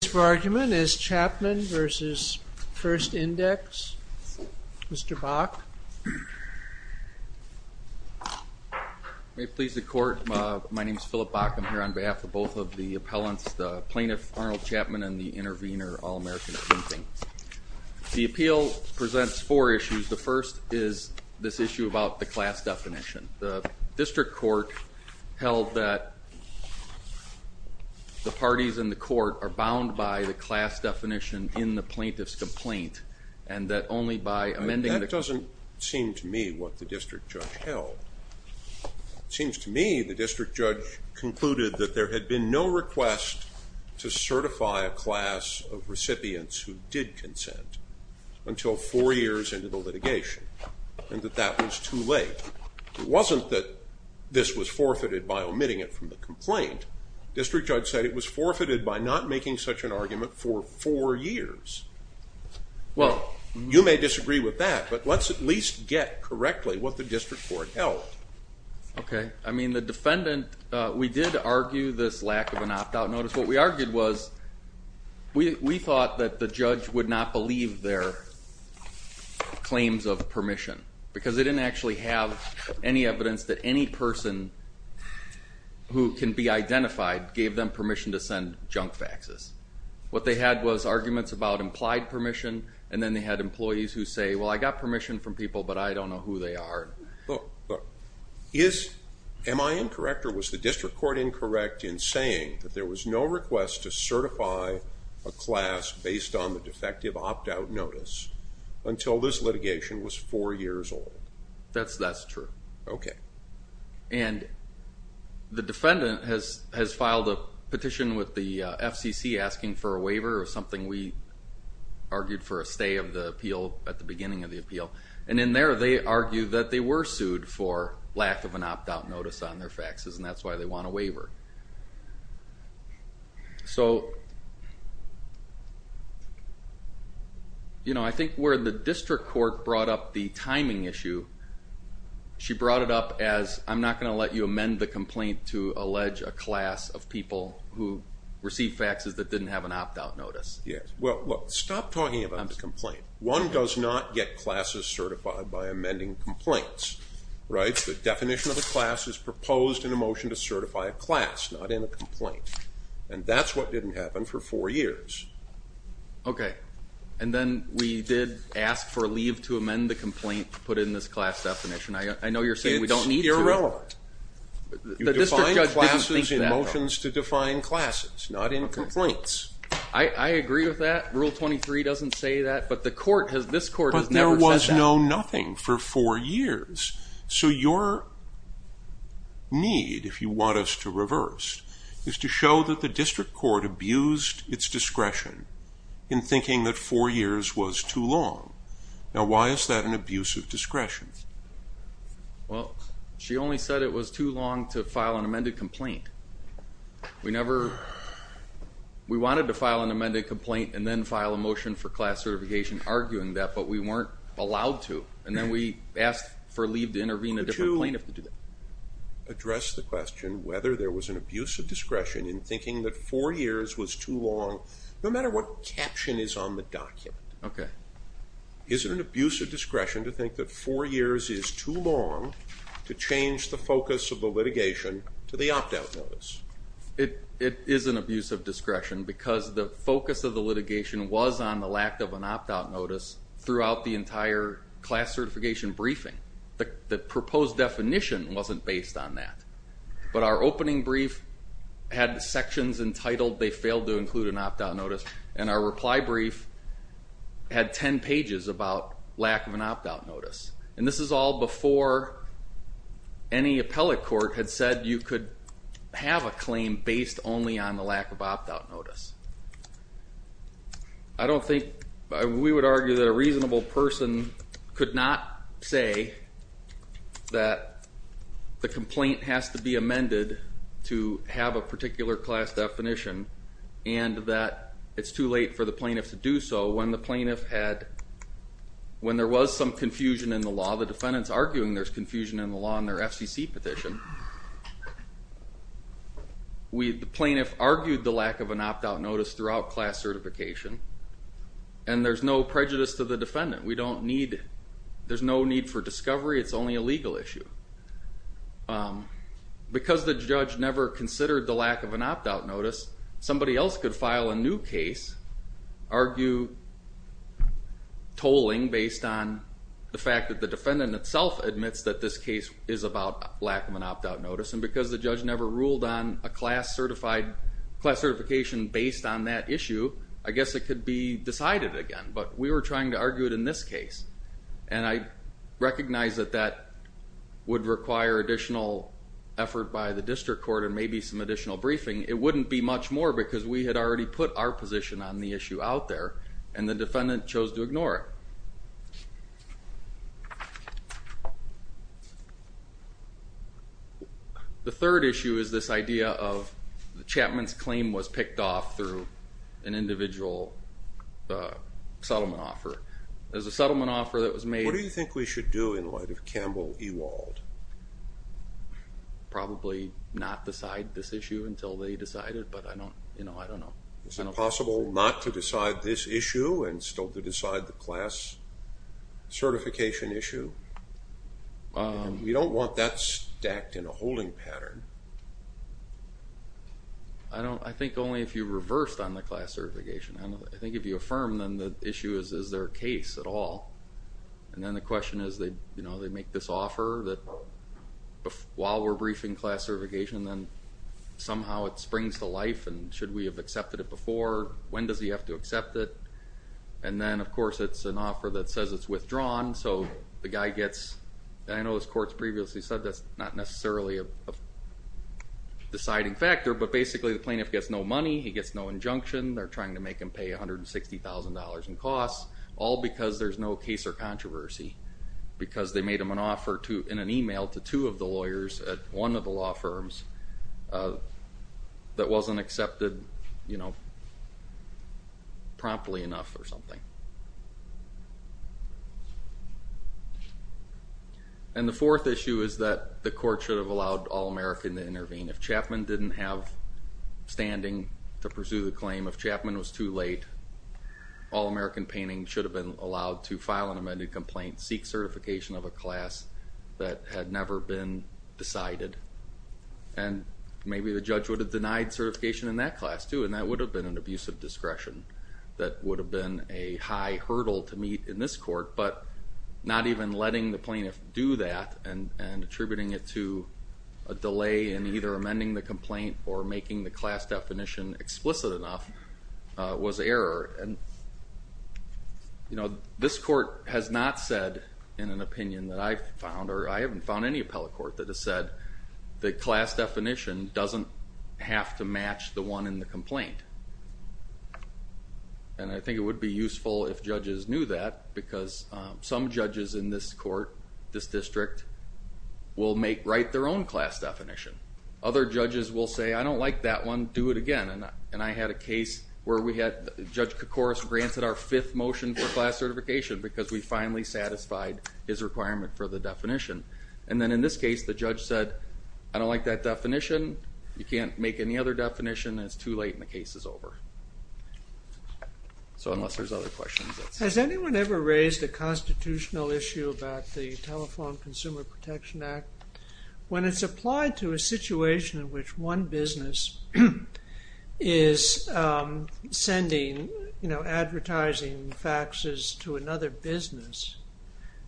The case for argument is Chapman v. First Index. Mr. Bok? May it please the Court, my name is Philip Bok. I'm here on behalf of both of the appellants, the plaintiff Arnold Chapman and the intervener All-American Greenfield. The appeal presents four issues. The first is this issue about the class definition. The district court held that the parties in the court are bound by the class definition in the plaintiff's complaint and that only by amending the... That doesn't seem to me what the district judge held. It seems to me the district judge concluded that there had been no request to certify a class of recipients who did consent until four years into the litigation and that that was too late. It wasn't that this was forfeited by omitting it from the complaint. The district judge said it was forfeited by not making such an argument for four years. You may disagree with that, but let's at least get correctly what the district court held. Okay, I mean the defendant, we did argue this lack of an opt-out notice. What we argued was we thought that the judge would not believe their claims of permission because they didn't actually have any evidence that any person who can be identified gave them permission to send junk faxes. What they had was arguments about implied permission and then they had employees who say, well, I got permission from people, but I don't know who they are. Look, look. Am I incorrect or was the district court incorrect in saying that there was no request to certify a class based on the defective opt-out notice until this litigation was four years old? That's true. Okay. And the defendant has filed a petition with the FCC asking for a waiver or something we argued for a stay of the appeal at the beginning of the appeal. And in there they argue that they were sued for lack of an opt-out notice on their faxes and that's why they want a waiver. So, you know, I think where the district court brought up the timing issue, she brought it up as I'm not going to let you amend the complaint to allege a class of people who received faxes that didn't have an opt-out notice. Yes. Well, look, stop talking about the complaint. One does not get classes certified by amending complaints, right? The definition of a class is proposed in a motion to certify a class, not in a complaint. And that's what didn't happen for four years. Okay. And then we did ask for a leave to amend the complaint to put in this class definition. I know you're saying we don't need to. It's irrelevant. The district judge didn't think that though. You define classes in motions to define classes, not in complaints. I agree with that. Rule 23 doesn't say that, but the court has, this court has never said that. We've known nothing for four years. So, your need, if you want us to reverse, is to show that the district court abused its discretion in thinking that four years was too long. Now, why is that an abuse of discretion? Well, she only said it was too long to file an amended complaint. We never, we wanted to file an amended complaint and then file a motion for class certification arguing that, but we weren't allowed to. And then we asked for leave to intervene a different plaintiff to do that. Could you address the question whether there was an abuse of discretion in thinking that four years was too long, no matter what caption is on the document. Okay. Is it an abuse of discretion to think that four years is too long to change the focus of the litigation to the opt-out notice? It is an abuse of discretion because the focus of the litigation was on the lack of an opt-out notice throughout the entire class certification briefing. The proposed definition wasn't based on that. But our opening brief had sections entitled, they failed to include an opt-out notice. And our reply brief had ten pages about lack of an opt-out notice. And this is all before any appellate court had said you could have a claim based only on the lack of opt-out notice. I don't think, we would argue that a reasonable person could not say that the complaint has to be amended to have a particular class definition. And that it's too late for the plaintiff to do so when the plaintiff had, when there was some confusion in the law. The defendant's arguing there's confusion in the law in their FCC petition. The plaintiff argued the lack of an opt-out notice throughout class certification. And there's no prejudice to the defendant. We don't need, there's no need for discovery. It's only a legal issue. Because the judge never considered the lack of an opt-out notice, somebody else could file a new case, argue tolling based on the fact that the defendant itself admits that this case is about lack of an opt-out notice. And because the judge never ruled on a class certified, class certification based on that issue, I guess it could be decided again. But we were trying to argue it in this case. And I recognize that that would require additional effort by the district court and maybe some additional briefing. It wouldn't be much more because we had already put our position on the issue out there. And the defendant chose to ignore it. The third issue is this idea of the Chapman's claim was picked off through an individual settlement offer. There's a settlement offer that was made. What do you think we should do in light of Campbell Ewald? Probably not decide this issue until they decide it, but I don't know. Is it possible not to decide this issue and still to decide the class certification issue? We don't want that stacked in a holding pattern. I think only if you reversed on the class certification. I think if you affirm, then the issue is, is there a case at all? And then the question is, they make this offer that while we're briefing class certification, then somehow it springs to life and should we have accepted it before? When does he have to accept it? And then, of course, it's an offer that says it's withdrawn. So the guy gets, I know as courts previously said, that's not necessarily a deciding factor, but basically the plaintiff gets no money, he gets no injunction, they're trying to make him pay $160,000 in costs, all because there's no case or controversy, because they made him an offer in an email to two of the lawyers at one of the law firms that wasn't accepted promptly enough or something. And the fourth issue is that the court should have allowed All-American to intervene. If Chapman didn't have standing to pursue the claim, if Chapman was too late, All-American painting should have been allowed to file an amended complaint, seek certification of a class that had never been decided, and maybe the judge would have denied certification in that class too, and that would have been an abusive discretion that would have been a high hurdle to meet in this court, but not even letting the plaintiff do that and attributing it to a delay in either amending the complaint or making the class definition explicit enough was error. And this court has not said in an opinion that I've found, or I haven't found any appellate court that has said that class definition doesn't have to match the one in the complaint. And I think it would be useful if judges knew that, because some judges in this court, this district, will write their own class definition. Other judges will say, I don't like that one, do it again. And I had a case where we had Judge Koukouras granted our fifth motion for class certification because we finally satisfied his requirement for the definition. And then in this case, the judge said, I don't like that definition, you can't make any other definition, and it's too late and the case is over. So unless there's other questions. Has anyone ever raised a constitutional issue about the Telephone Consumer Protection Act? When it's applied to a situation in which one business is sending advertising faxes to another business,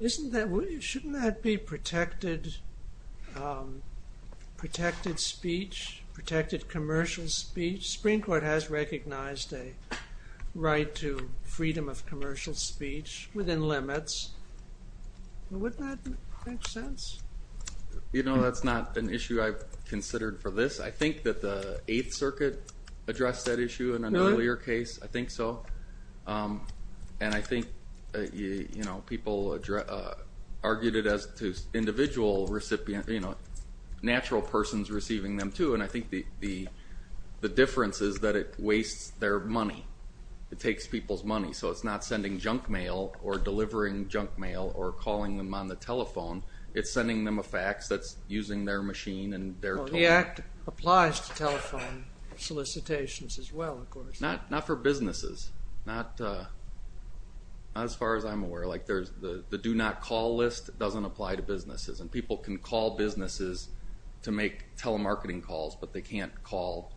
shouldn't that be protected speech, protected commercial speech? The Supreme Court has recognized a right to freedom of commercial speech within limits. Wouldn't that make sense? You know, that's not an issue I've considered for this. I think that the Eighth Circuit addressed that issue in an earlier case. Really? I think so. And I think, you know, people argued it as to individual recipient, you know, natural persons receiving them too, and I think the difference is that it wastes their money. It takes people's money. So it's not sending junk mail or delivering junk mail or calling them on the telephone. It's sending them a fax that's using their machine and their telephone. Well, the act applies to telephone solicitations as well, of course. Not for businesses. Not as far as I'm aware. Like the do not call list doesn't apply to businesses, and people can call businesses to make telemarketing calls, but they can't call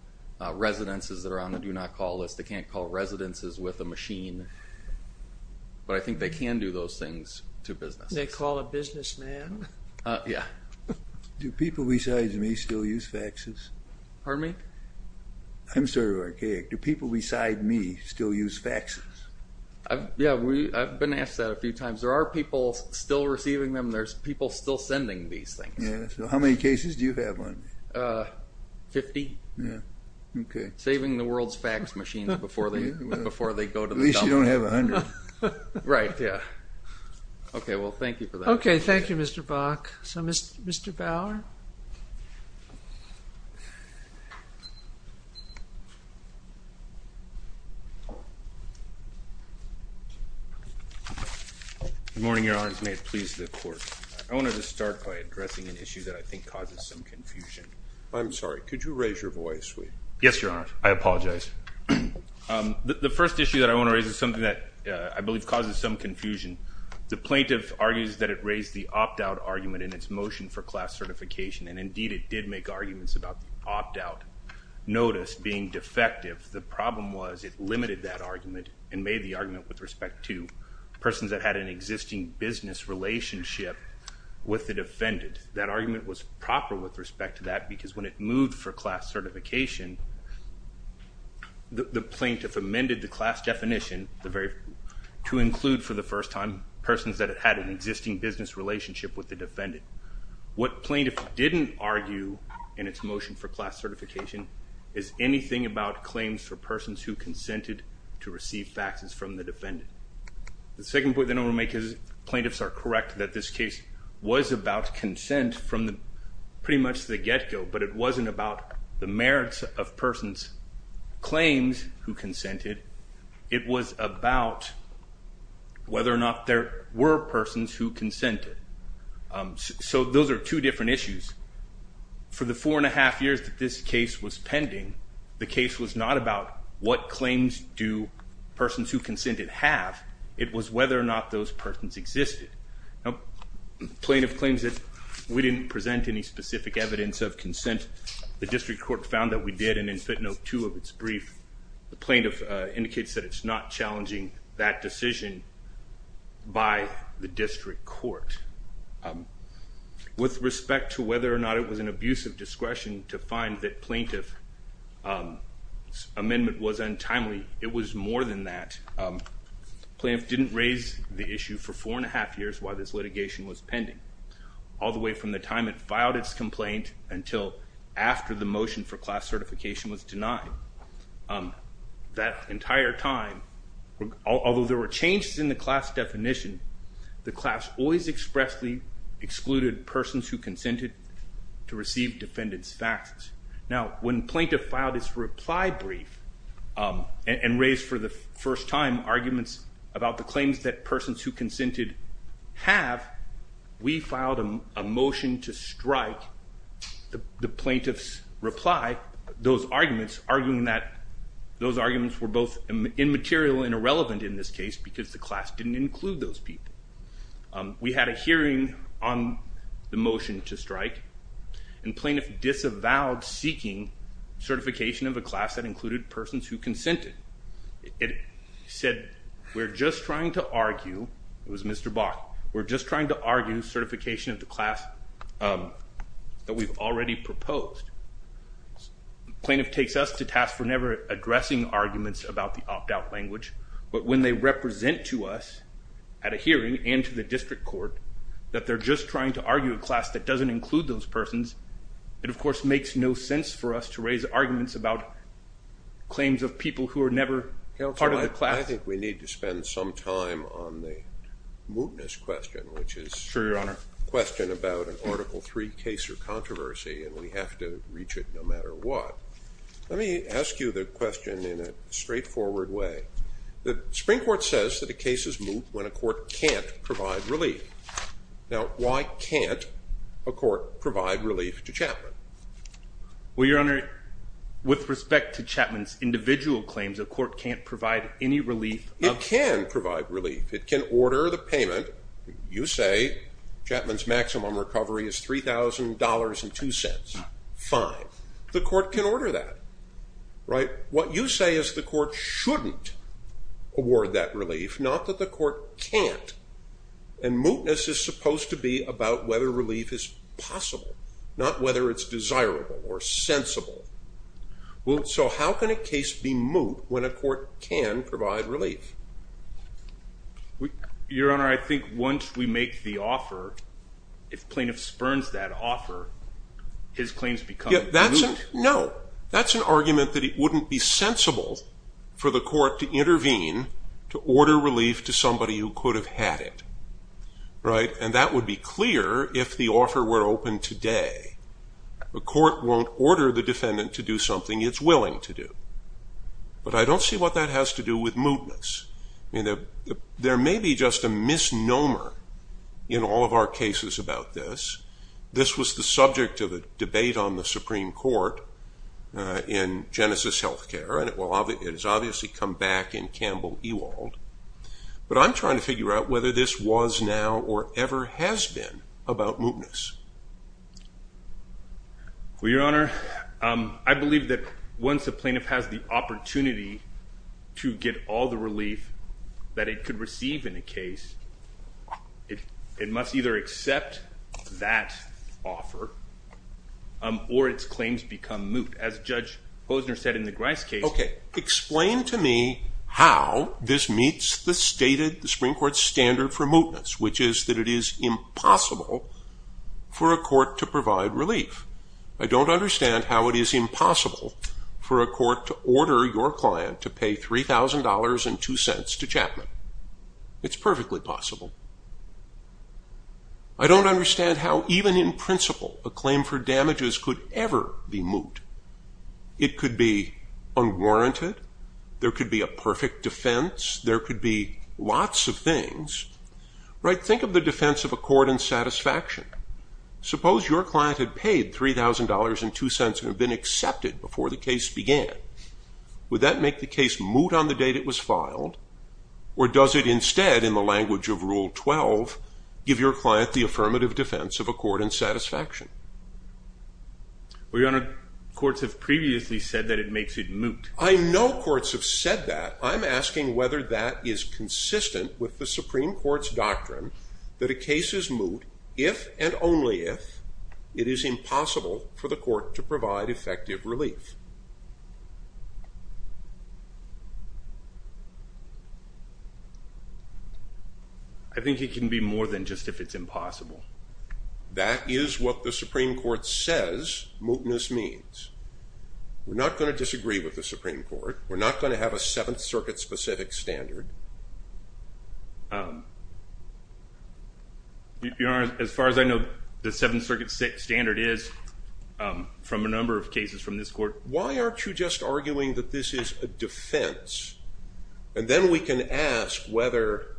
residences that are on the do not call list. They can't call residences with a machine. But I think they can do those things to businesses. They call a businessman. Yeah. Do people besides me still use faxes? Pardon me? I'm sort of archaic. Do people beside me still use faxes? Yeah, I've been asked that a few times. There are people still receiving them. There's people still sending these things. Yeah. So how many cases do you have on you? Fifty. Yeah. Okay. Saving the world's fax machines before they go to the dump. At least you don't have a hundred. Right, yeah. Okay, well, thank you for that. Okay, thank you, Mr. Bach. So, Mr. Bauer? Good morning, Your Honors. May it please the Court. I wanted to start by addressing an issue that I think causes some confusion. I'm sorry. Could you raise your voice? Yes, Your Honors. I apologize. The first issue that I want to raise is something that I believe causes some confusion. The plaintiff argues that it raised the opt-out argument in its motion for class certification, and indeed it did make arguments about the opt-out notice being defective. The problem was it limited that argument and made the argument with respect to persons that had an existing business relationship with the defendant. That argument was proper with respect to that because when it moved for class certification, the plaintiff amended the class definition to include, for the first time, persons that had an existing business relationship with the defendant. What plaintiff didn't argue in its motion for class certification is anything about claims for persons who consented to receive faxes from the defendant. The second point that I want to make is plaintiffs are correct that this case was about consent from pretty much the get-go, but it wasn't about the merits of persons' claims who consented. It was about whether or not there were persons who consented. So those are two different issues. For the four-and-a-half years that this case was pending, the case was not about what claims do persons who consented have. It was whether or not those persons existed. Plaintiff claims that we didn't present any specific evidence of consent. The district court found that we did, and in FITNOTE 2 of its brief, the plaintiff indicates that it's not challenging that decision by the district court. With respect to whether or not it was an abuse of discretion to find that plaintiff's amendment was untimely, it was more than that. Plaintiff didn't raise the issue for four-and-a-half years why this litigation was pending, all the way from the time it filed its complaint until after the motion for class certification was denied. That entire time, although there were changes in the class definition, the class always expressly excluded persons who consented to receive defendant's faxes. Now, when plaintiff filed its reply brief and raised for the first time arguments about the claims that persons who consented have, we filed a motion to strike the plaintiff's reply, those arguments, arguing that those arguments were both immaterial and irrelevant in this case because the class didn't include those people. We had a hearing on the motion to strike, and plaintiff disavowed seeking certification of a class that included persons who consented. It said, we're just trying to argue, it was Mr. Bach, we're just trying to argue certification of the class that we've already proposed. Plaintiff takes us to task for never addressing arguments about the opt-out language, but when they represent to us, at a hearing and to the district court, that they're just trying to argue a class that doesn't include those persons, it, of course, makes no sense for us to raise arguments about claims of people who are never part of the class. Counsel, I think we need to spend some time on the mootness question, which is... Sure, Your Honor. ...a question about an Article III case or controversy, and we have to reach it no matter what. Let me ask you the question in a straightforward way. The Supreme Court says that a case is moot when a court can't provide relief. Now, why can't a court provide relief to Chapman? Well, Your Honor, with respect to Chapman's individual claims, a court can't provide any relief... It can provide relief. It can order the payment. You say Chapman's maximum recovery is $3,000.02. Fine. The court can order that, right? What you say is the court shouldn't award that relief, not that the court can't. And mootness is supposed to be about whether relief is possible, not whether it's desirable or sensible. So how can a case be moot when a court can provide relief? Your Honor, I think once we make the offer, if plaintiff spurns that offer, his claims become moot. No. That's an argument that it wouldn't be sensible for the court to intervene to order relief to somebody who could have had it. Right? And that would be clear if the offer were open today. A court won't order the defendant to do something it's willing to do. But I don't see what that has to do with mootness. There may be just a misnomer in all of our cases about this. This was the subject of a debate on the Supreme Court in Genesis Healthcare, and it has obviously come back in Campbell Ewald. But I'm trying to figure out whether this was now or ever has been about mootness. Well, Your Honor, I believe that once a plaintiff has the opportunity to get all the relief that it could receive in a case, it must either accept that offer or its claims become moot. As Judge Posner said in the Grice case. Okay. Explain to me how this meets the stated Supreme Court standard for mootness, which is that it is impossible for a court to provide relief. I don't understand how it is impossible for a court to order your client to pay $3,000.02 to Chapman. It's perfectly possible. I don't understand how even in principle a claim for damages could ever be moot. It could be unwarranted. There could be a perfect defense. There could be lots of things. Think of the defense of accord and satisfaction. Suppose your client had paid $3,000.02 and had been accepted before the case began. Would that make the case moot on the date it was filed, or does it instead, in the language of Rule 12, give your client the affirmative defense of accord and satisfaction? Well, Your Honor, courts have previously said that it makes it moot. I know courts have said that. I'm asking whether that is consistent with the Supreme Court's doctrine that a case is moot if and only if it is impossible for the court to provide effective relief. I think it can be more than just if it's impossible. That is what the Supreme Court says mootness means. We're not going to disagree with the Supreme Court. We're not going to have a Seventh Circuit-specific standard. Your Honor, as far as I know, the Seventh Circuit standard is from a number of cases from this court. Why aren't you just arguing that this is a defense? And then we can ask whether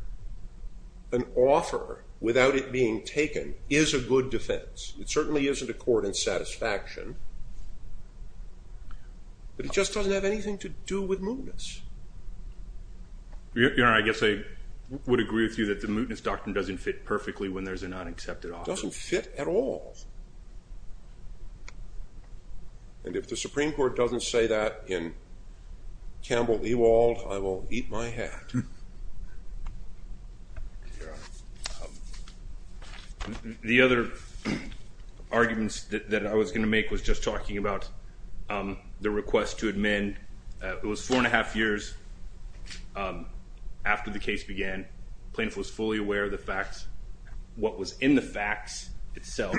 an offer without it being taken is a good defense. It certainly isn't accord and satisfaction, but it just doesn't have anything to do with mootness. Your Honor, I guess I would agree with you that the mootness doctrine doesn't fit perfectly when there's an unaccepted offer. It doesn't fit at all. And if the Supreme Court doesn't say that in Campbell Ewald, I will eat my hat. The other arguments that I was going to make was just talking about the request to admin. It was four and a half years after the case began. Plaintiff was fully aware of the facts, what was in the facts itself,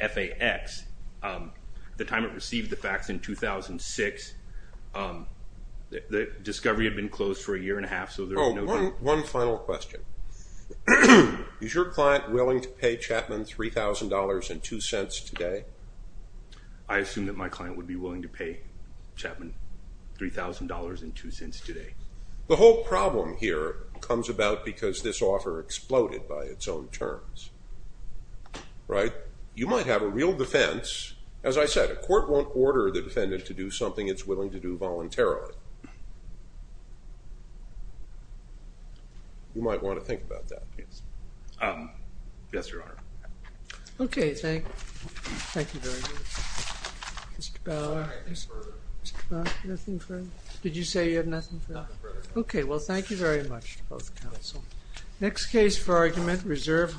FAX. The time it received the facts in 2006, the discovery had been closed for a year and a half. One final question. Is your client willing to pay Chapman $3,000.02 today? I assume that my client would be willing to pay Chapman $3,000.02 today. The whole problem here comes about because this offer exploded by its own terms. Right? You might have a real defense. As I said, a court won't order the defendant to do something it's willing to do voluntarily. You might want to think about that. Yes, Your Honor. Okay. Thank you. Thank you very much. Mr. Bauer. Nothing further. Mr. Bauer, nothing further? Did you say you have nothing further? Nothing further. Okay. Well, thank you very much to both counsel. Next case for argument, reserve.